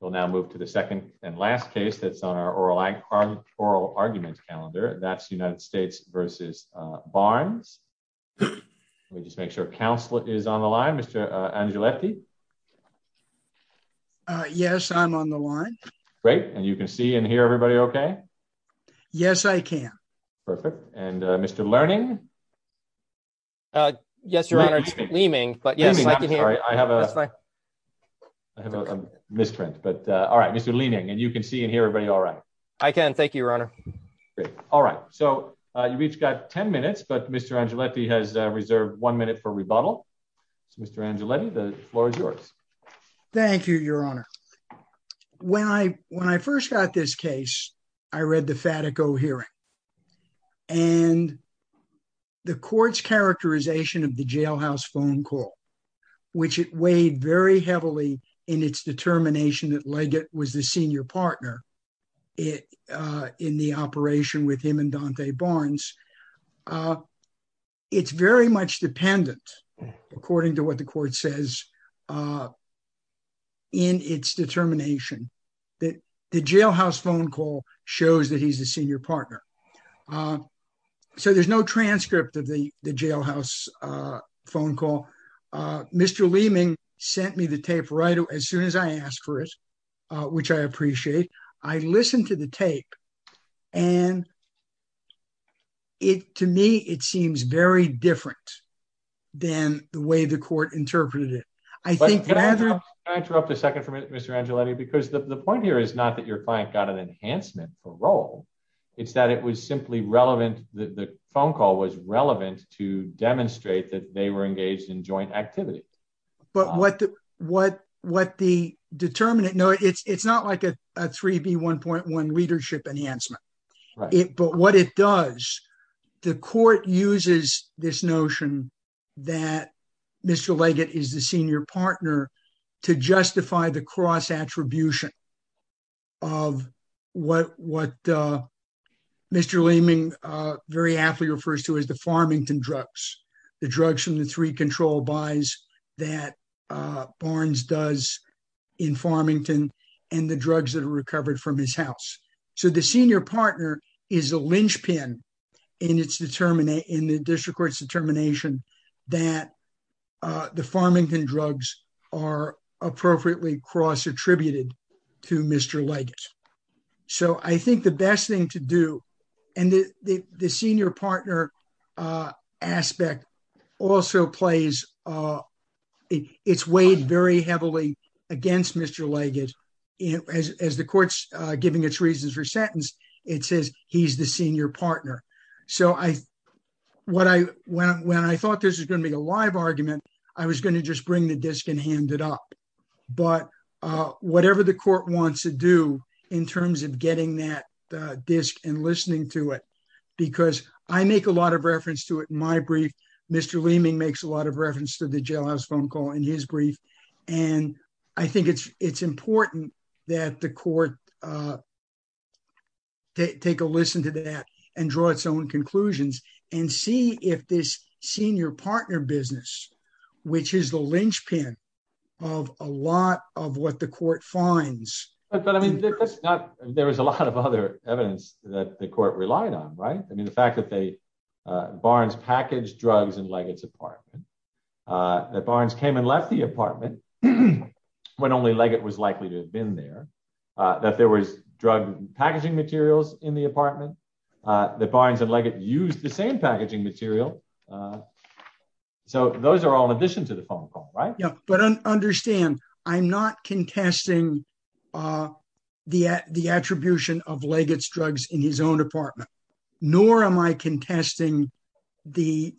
We'll now move to the second and last case that's on our oral arguments calendar. That's United States v. Barnes. Let me just make sure counsel is on the line. Mr. Angioletti? Yes, I'm on the line. Great. And you can see and hear everybody okay? Yes, I can. Perfect. And Mr. Learning? Yes, Your Honor. Learning, but yes, I can hear. I have a misprint, but all right, Mr. Learning, and you can see and hear everybody all right? I can. Thank you, Your Honor. All right. So you've each got 10 minutes, but Mr. Angioletti has reserved one minute for rebuttal. So Mr. Angioletti, the floor is yours. Thank you, Your Honor. When I first got this case, I read the Fatico hearing, and the court's characterization of the jailhouse phone call, which it weighed very heavily in its determination that Leggett was the senior partner in the operation with him and Dante Barnes. It's very much dependent, according to what the court says, in its determination that the jailhouse phone call shows that he's a senior partner. So there's no transcript of the jailhouse phone call. Mr. Leeming sent me the tape right as soon as I asked for it, which I appreciate. I listened to the tape, and it, to me, it seems very different than the way the court interpreted it. Can I interrupt a second for a minute, Mr. Angioletti? Because the point here is not that your client got an enhancement for role. It's that it was simply relevant, the phone call was relevant to demonstrate that they were engaged in joint activity. But what the determinant, no, it's not like a 3B1.1 leadership enhancement. But what it does, the court uses this notion that Mr. Leggett is the senior partner to justify the cross-attribution of what Mr. Leeming very aptly refers to as the Farmington drugs, the drugs from the three control buys that Barnes does in Farmington and the drugs that are recovered from his house. So the senior partner is a linchpin in the district court's determination that the Farmington drugs are appropriately cross-attributed to Mr. Leggett. So I think the best thing to do, and the senior partner aspect also plays, it's weighed very heavily against Mr. Leggett as the court's giving its reasons for sentence, it says he's the senior partner. So when I thought this was going to be a live argument, I was going to just bring the disc and hand it up. But whatever the court wants to do in terms of getting that disc and listening to it, because I make a lot of reference to it in my brief, Mr. Leeming makes a lot of reference to the jailhouse phone call in his brief. And I think it's important that the court take a listen to that and draw its own conclusions and see if this senior partner business, which is the linchpin of a lot of what the court finds. But I mean, there was a lot of other evidence that the court relied on, right? I mean, the fact that Barnes packaged drugs in Leggett's apartment, that Barnes came and left the apartment when only Leggett was likely to have been there, that there was drug packaging materials in the apartment, that Barnes and Leggett used the same packaging material. So those are all in addition to the phone call, right? Yeah. But understand, I'm not contesting the attribution of Leggett's drugs in his own apartment, nor am I contesting the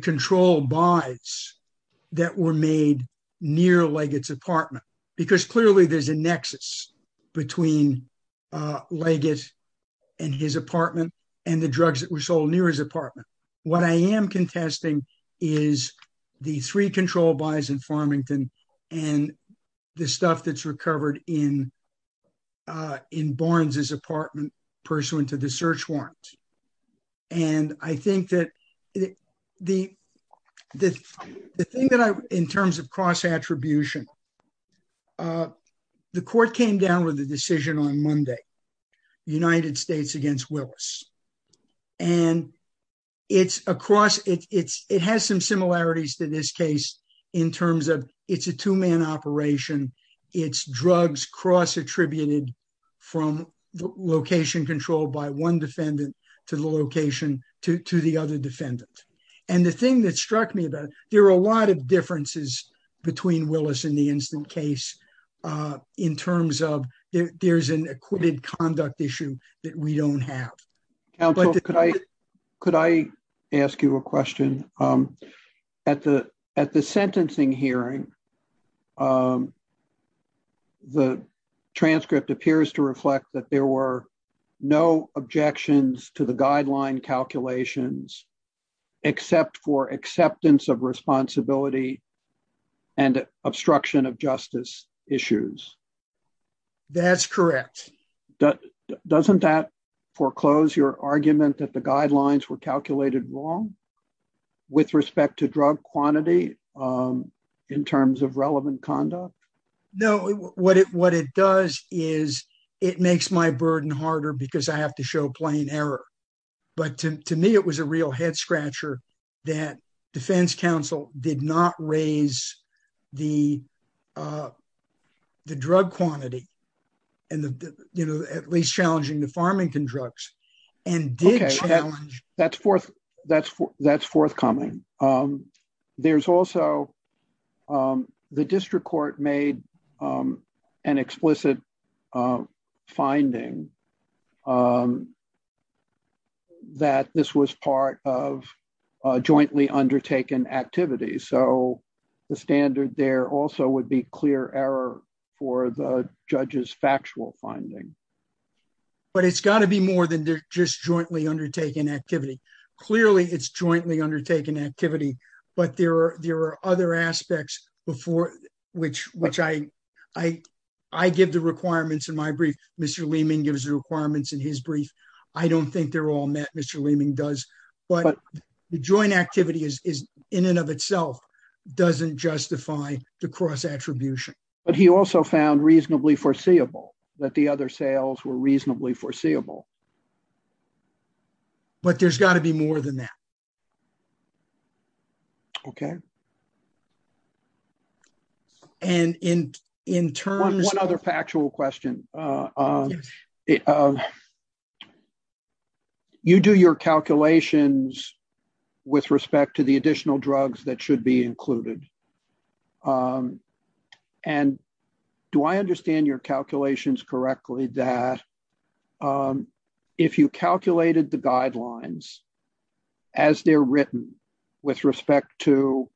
control buys that were made near Leggett's apartment, because clearly there's a nexus between Leggett and his apartment and the drugs that were sold near his apartment. What I am contesting is the three in Barnes's apartment pursuant to the search warrant. And I think that the thing that I, in terms of cross attribution, the court came down with a decision on Monday, United States against Willis. And it's across, it has some similarities to this case, in terms of it's a two man operation. It's drugs cross attributed from location control by one defendant to the location to the other defendant. And the thing that struck me about, there are a lot of differences between Willis and the instant case in terms of there's an acquitted conduct issue that we don't have. Counsel, could I ask you a question? At the sentencing hearing, the transcript appears to reflect that there were no objections to the guideline calculations, except for acceptance of responsibility and obstruction of justice issues. That's correct. Doesn't that foreclose your argument that the guidelines were calculated wrong with respect to drug quantity in terms of relevant conduct? No, what it does is it makes my burden harder because I have to show plain error. But to me, it was a real head scratcher that defense counsel did not raise the drug quantity and, you know, at least challenging the farming and drugs and did challenge. That's forthcoming. There's also the district court made an explicit finding that this was part of a jointly undertaken activity. So the standard there also would be error for the judge's factual finding. But it's got to be more than just jointly undertaken activity. Clearly it's jointly undertaken activity, but there are other aspects before which I give the requirements in my brief. Mr. Leeming gives the requirements in his brief. I don't think they're all met. Mr. Leeming does. But the joint activity is in and of itself doesn't justify the cross attribution. But he also found reasonably foreseeable that the other sales were reasonably foreseeable. But there's got to be more than that. Okay. And in terms... One other factual question. Yes. You do your calculations with respect to the additional drugs that should be included. And do I understand your calculations correctly that if you calculated the guidelines as they're written with respect to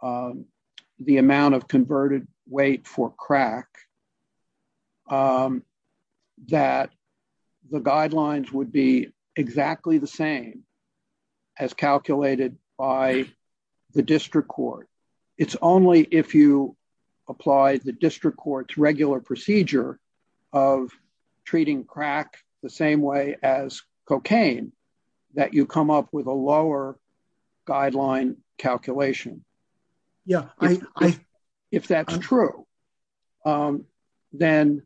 the amount of converted weight for crack, that the guidelines would be exactly the same as calculated by the district court? It's only if you apply the district court's regular procedure of treating crack the same way as cocaine that you come up with a lower guideline calculation. If that's true, then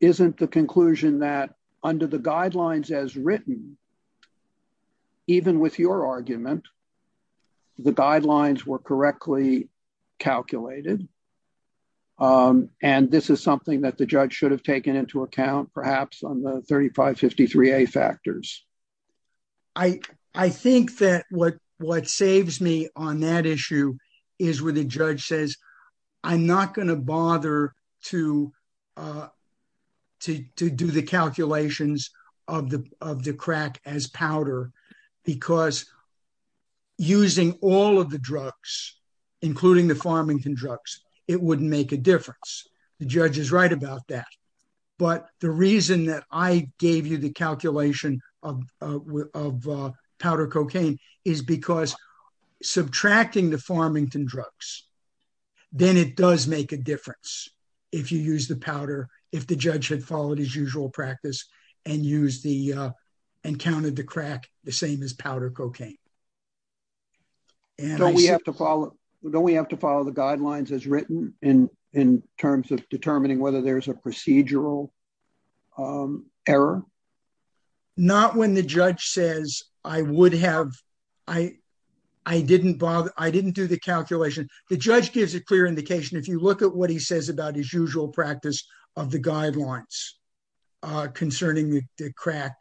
isn't the conclusion that under the guidelines as written, even with your argument, the guidelines were correctly calculated? And this is something that the judge should have taken into account perhaps on the 3553A factors? I think that what saves me on that issue is where the judge says, I'm not going to bother to do the calculations of the crack as powder, because using all of the drugs, including the Farmington drugs, it wouldn't make a difference. The judge is right about that. But the reason that I gave you the calculation of powder cocaine is because subtracting the Farmington drugs, then it does make a difference if you use the powder, if the judge had followed his usual practice and counted the crack the same as powder cocaine. Don't we have to follow the guidelines as written in terms of determining whether there's a procedural error? Not when the judge says, I didn't do the calculation. The judge gives a clear indication. If you look at what he says about his usual practice of the guidelines concerning the crack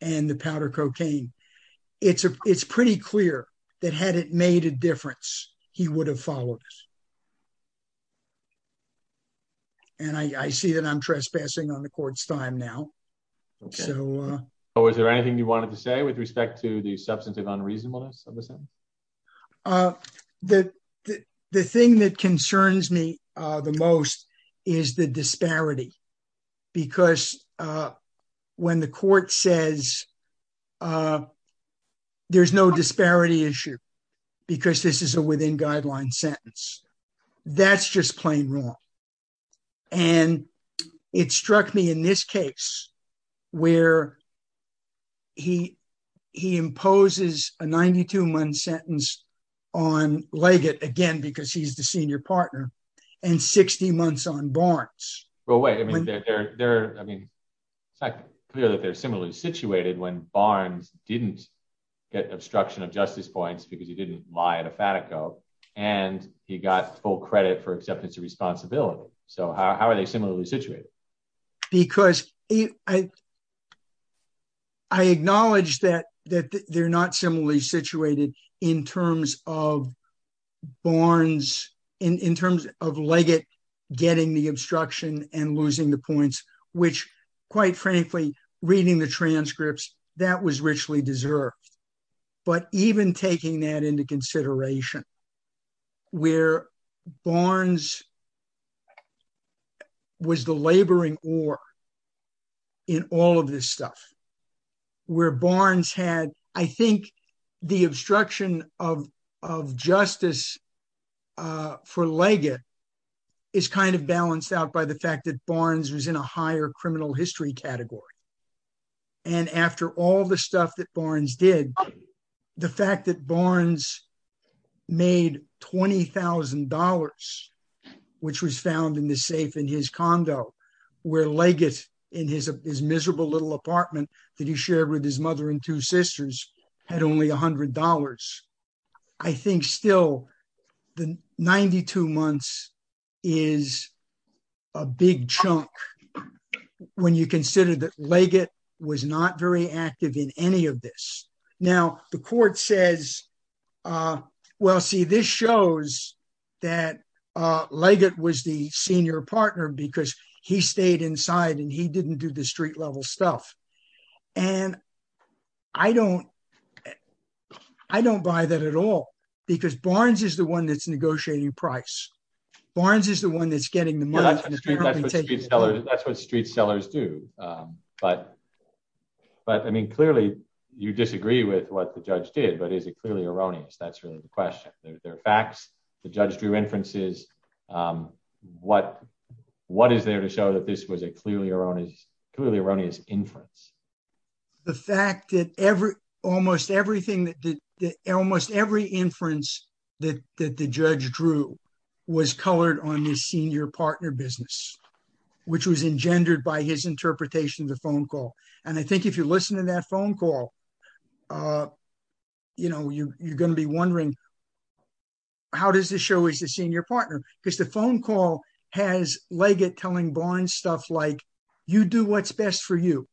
and the powder cocaine, it's pretty clear that had it made a difference, he would have followed it. And I see that I'm trespassing on the court's time now. Was there anything you wanted to say with respect to the substance of unreasonableness? The thing that concerns me the most is the disparity. Because when the court says, there's no disparity issue, because this is a within guideline sentence. That's just plain wrong. And it struck me in this case, where he imposes a 92 month sentence on Leggett, again, because he's the senior partner, and 60 months on Barnes. Well, wait, I mean, it's not clear that they're similarly situated when Barnes didn't get obstruction of justice points because he didn't lie at a Fatico, and he got full credit for acceptance of responsibility. So how are they similarly situated? Because I acknowledge that they're not similarly situated in terms of Barnes, in terms of Leggett, getting the obstruction and losing the points, which, quite frankly, reading the transcripts, that was richly deserved. But even taking that into consideration, where Barnes was the laboring or in all of this stuff, where Barnes had, I think, the obstruction of justice for Leggett, is kind of balanced out by the fact that Barnes was in a higher criminal history category. And after all the stuff that Barnes did, the fact that Barnes made $20,000, which was found in the safe in his condo, where Leggett in his miserable little had only $100. I think still, the 92 months is a big chunk, when you consider that Leggett was not very active in any of this. Now, the court says, well, see, this shows that Leggett was the senior partner because he stayed inside and he didn't do the street level stuff. And I don't buy that at all, because Barnes is the one that's negotiating price. Barnes is the one that's getting the money. That's what street sellers do. But I mean, clearly, you disagree with what the judge did. But is it clearly erroneous? That's really the question. There are facts, the judge drew inferences. What is there to show that this is a clearly erroneous inference? The fact that almost every inference that the judge drew was colored on the senior partner business, which was engendered by his interpretation of the phone call. And I think if you listen to that phone call, you're going to be wondering, how does show he's the senior partner? Because the phone call has Leggett telling Barnes stuff like, you do what's best for you.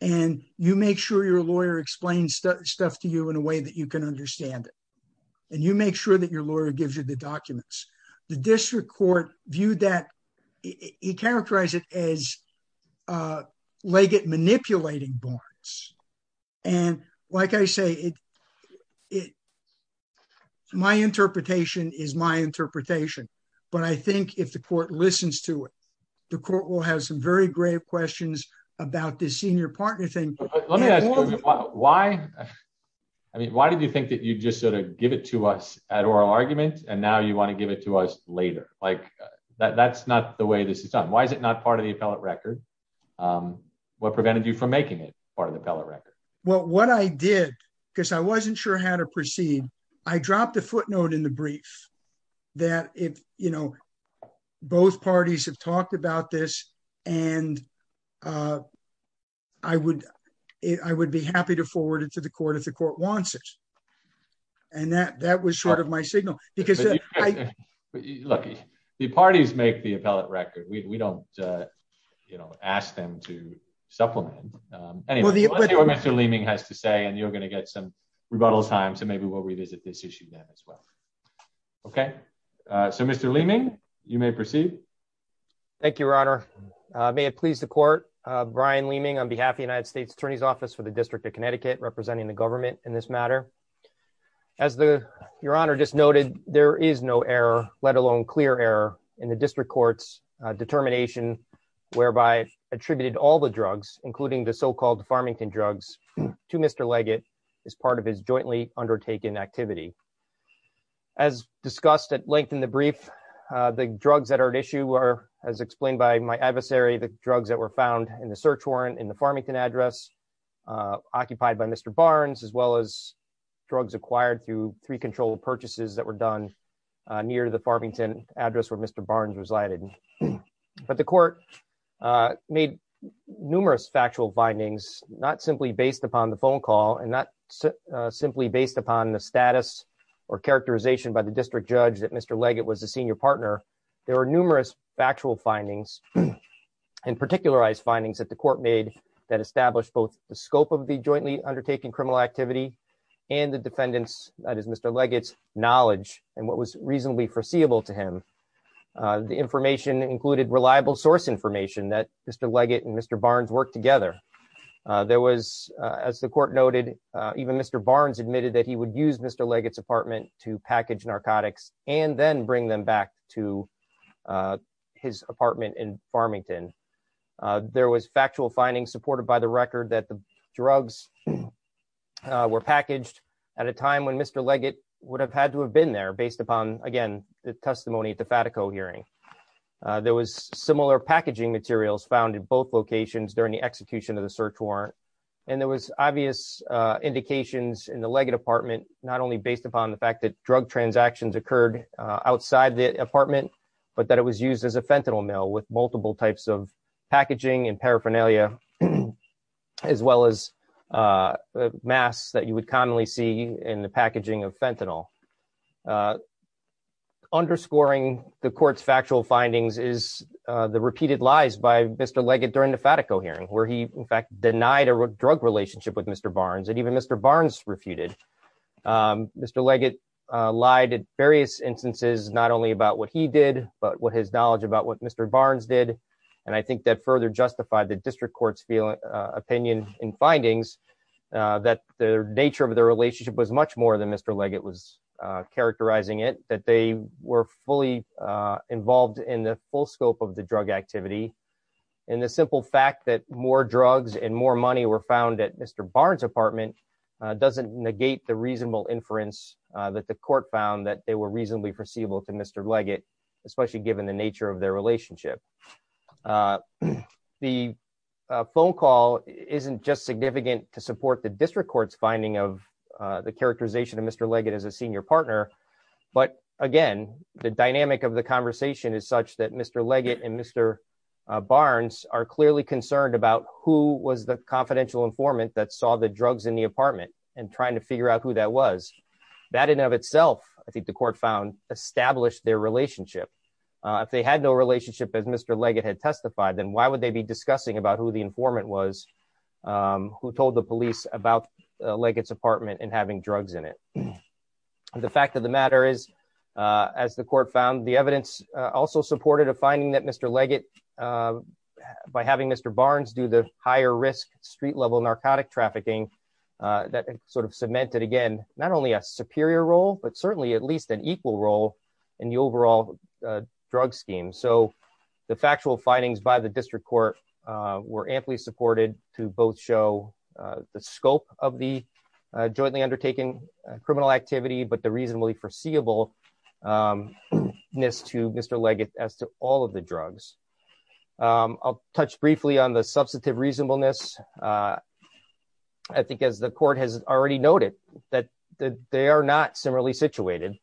And you make sure your lawyer explains stuff to you in a way that you can understand it. And you make sure that your lawyer gives you the documents. The district court viewed that, he characterized it as Leggett manipulating Barnes. And like I say, it, my interpretation is my interpretation. But I think if the court listens to it, the court will have some very great questions about this senior partner thing. Why? I mean, why did you think that you just sort of give it to us at oral argument? And now you want to give it to us later? Like, that's not the way this is done. Why is it not part of the appellate record? What prevented you from making it part of the appellate record? Well, what I did, because I wasn't sure how to proceed, I dropped a footnote in the brief, that if, you know, both parties have talked about this, and I would, I would be happy to forward it to the court if the court wants it. And that that was sort of my signal, because look, the parties make the appellate record, we don't, you know, ask them to supplement. Anyway, let's see what Mr. Leeming has to say. And you're going to get some rebuttal time. So maybe we'll revisit this issue then as well. Okay. So Mr. Leeming, you may proceed. Thank you, Your Honor. May it please the court. Brian Leeming on behalf of the United States Attorney's Office for the District of Connecticut representing the government in this matter. As the Your Honor just noted, there is no error, let alone clear error in the district court's determination, whereby attributed all the drugs, including the so called Farmington drugs to Mr. Leggett as part of his jointly undertaken activity. As discussed at length in the brief, the drugs that are at issue are, as explained by my adversary, the drugs that were found in the search warrant in the Farmington address, occupied by Mr. Barnes, as well as drugs acquired through three controlled purchases that were done near the Farmington address where Mr. Barnes resided. But the court made numerous factual findings, not simply based upon the phone call and not simply based upon the status or characterization by the district judge that Mr. Leggett was a senior partner. There were numerous factual findings and particularized findings that the court made that established both the scope of the jointly undertaken criminal activity and the defendant's, that is Mr. Leggett's, knowledge and what was reasonably foreseeable to him. The information included reliable source information that Mr. Leggett and Mr. Barnes worked together. There was, as the court noted, even Mr. Barnes admitted that he would use Mr. Leggett's apartment to package narcotics and then bring them back to his apartment in Farmington. There was factual findings supported by the record that the drugs were packaged at a hearing. There was similar packaging materials found in both locations during the execution of the search warrant. And there was obvious indications in the Leggett apartment, not only based upon the fact that drug transactions occurred outside the apartment, but that it was used as a fentanyl mill with multiple types of packaging and paraphernalia, as well as masks that you would commonly see in the packaging of fentanyl. Underscoring the court's factual findings is the repeated lies by Mr. Leggett during the Fatico hearing, where he in fact denied a drug relationship with Mr. Barnes and even Mr. Barnes refuted. Mr. Leggett lied in various instances, not only about what he did, but what his knowledge about what Mr. Barnes did. And I think that further justified the district court's opinion in findings that the nature of their relationship was much more than Mr. Leggett was characterizing it, that they were fully involved in the full scope of the drug activity. And the simple fact that more drugs and more money were found at Mr. Barnes' apartment doesn't negate the reasonable inference that the court found that they were reasonably perceivable to Mr. Leggett, especially given the nature of their relationship. The phone call isn't just significant to support the district court's finding of the characterization of Mr. Leggett as a senior partner. But again, the dynamic of the conversation is such that Mr. Leggett and Mr. Barnes are clearly concerned about who was the confidential informant that saw the drugs in the apartment and trying to figure out who that was. That in and of itself, I think the court found established their relationship. If they had no relationship as Mr. Leggett had testified, then why would they be discussing about who the informant was who told the police about Leggett's apartment and having drugs in it? The fact of the matter is, as the court found, the evidence also supported a finding that Mr. Leggett, by having Mr. Barnes do the higher risk street level narcotic trafficking, that sort of cemented again, not only a superior role, but certainly at least an equal role in the overall drug scheme. So the factual findings by the district court were amply supported to both show the scope of the jointly undertaken criminal activity, but the reasonably foreseeable miss to Mr. Leggett as to all of the drugs. I'll touch briefly on the substantive reasonableness. I think as the court has already noted that they are not similarly situated,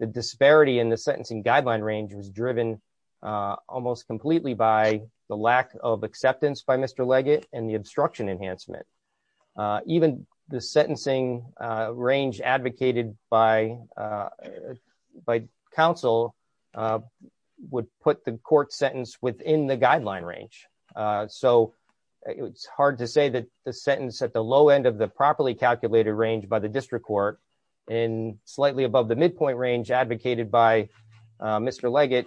the disparity in the sentencing guideline range was driven almost completely by the lack of acceptance by Mr. Leggett and the obstruction enhancement. Even the sentencing range advocated by counsel would put the court sentence within the guideline range. So it's hard to say that the sentence at the low end of the properly calculated range by the district court and slightly above the midpoint range advocated by Mr. Leggett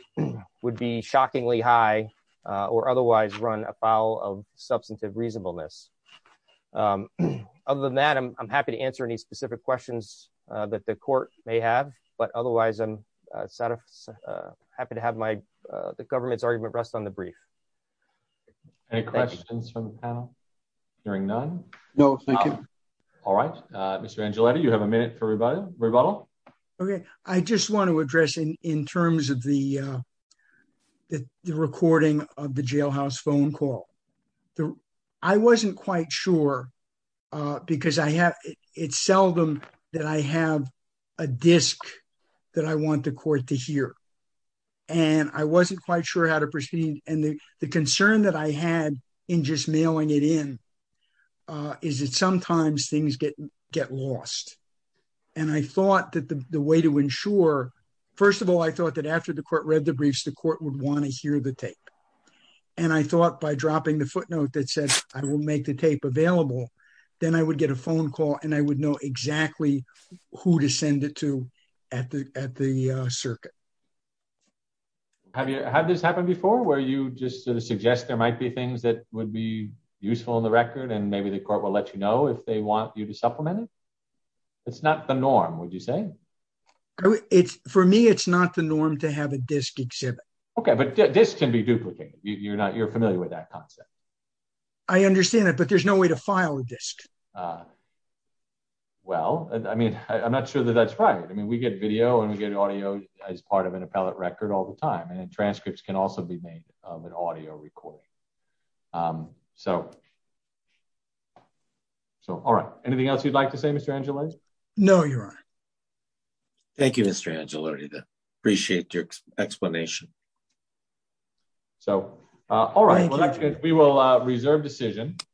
would be shockingly high or otherwise run a foul of substantive reasonableness. Other than that, I'm happy to answer any specific questions that the court may have, but otherwise I'm happy to have my, the government's argument rest on the brief. Any questions from the panel during none? No. All right. Mr. Angeletti, you have a minute for rebuttal. Okay. I just want to address in terms of the recording of the jailhouse phone call. I wasn't quite sure because it's seldom that I have a disc that I want the court to hear. And I wasn't quite sure how to proceed. And the concern that I had in just get lost. And I thought that the way to ensure, first of all, I thought that after the court read the briefs, the court would want to hear the tape. And I thought by dropping the footnote that says, I will make the tape available. Then I would get a phone call and I would know exactly who to send it to at the, at the circuit. Have you had this happen before where you just sort of suggest there might be things that would be useful in the record and maybe the court will let you know if they want you to supplement it? It's not the norm, would you say? It's for me, it's not the norm to have a disc exhibit. Okay. But this can be duplicated. You're not, you're familiar with that concept. I understand that, but there's no way to file a disc. Well, I mean, I'm not sure that that's right. I mean, we get video and we get audio as part of an appellate record all the time. And then transcripts can also be made of an audio recording. So, so, all right. Anything else you'd like to say, Mr. Angelou? No, Your Honor. Thank you, Mr. Angelou. Appreciate your explanation. So, all right. We will reserve decision.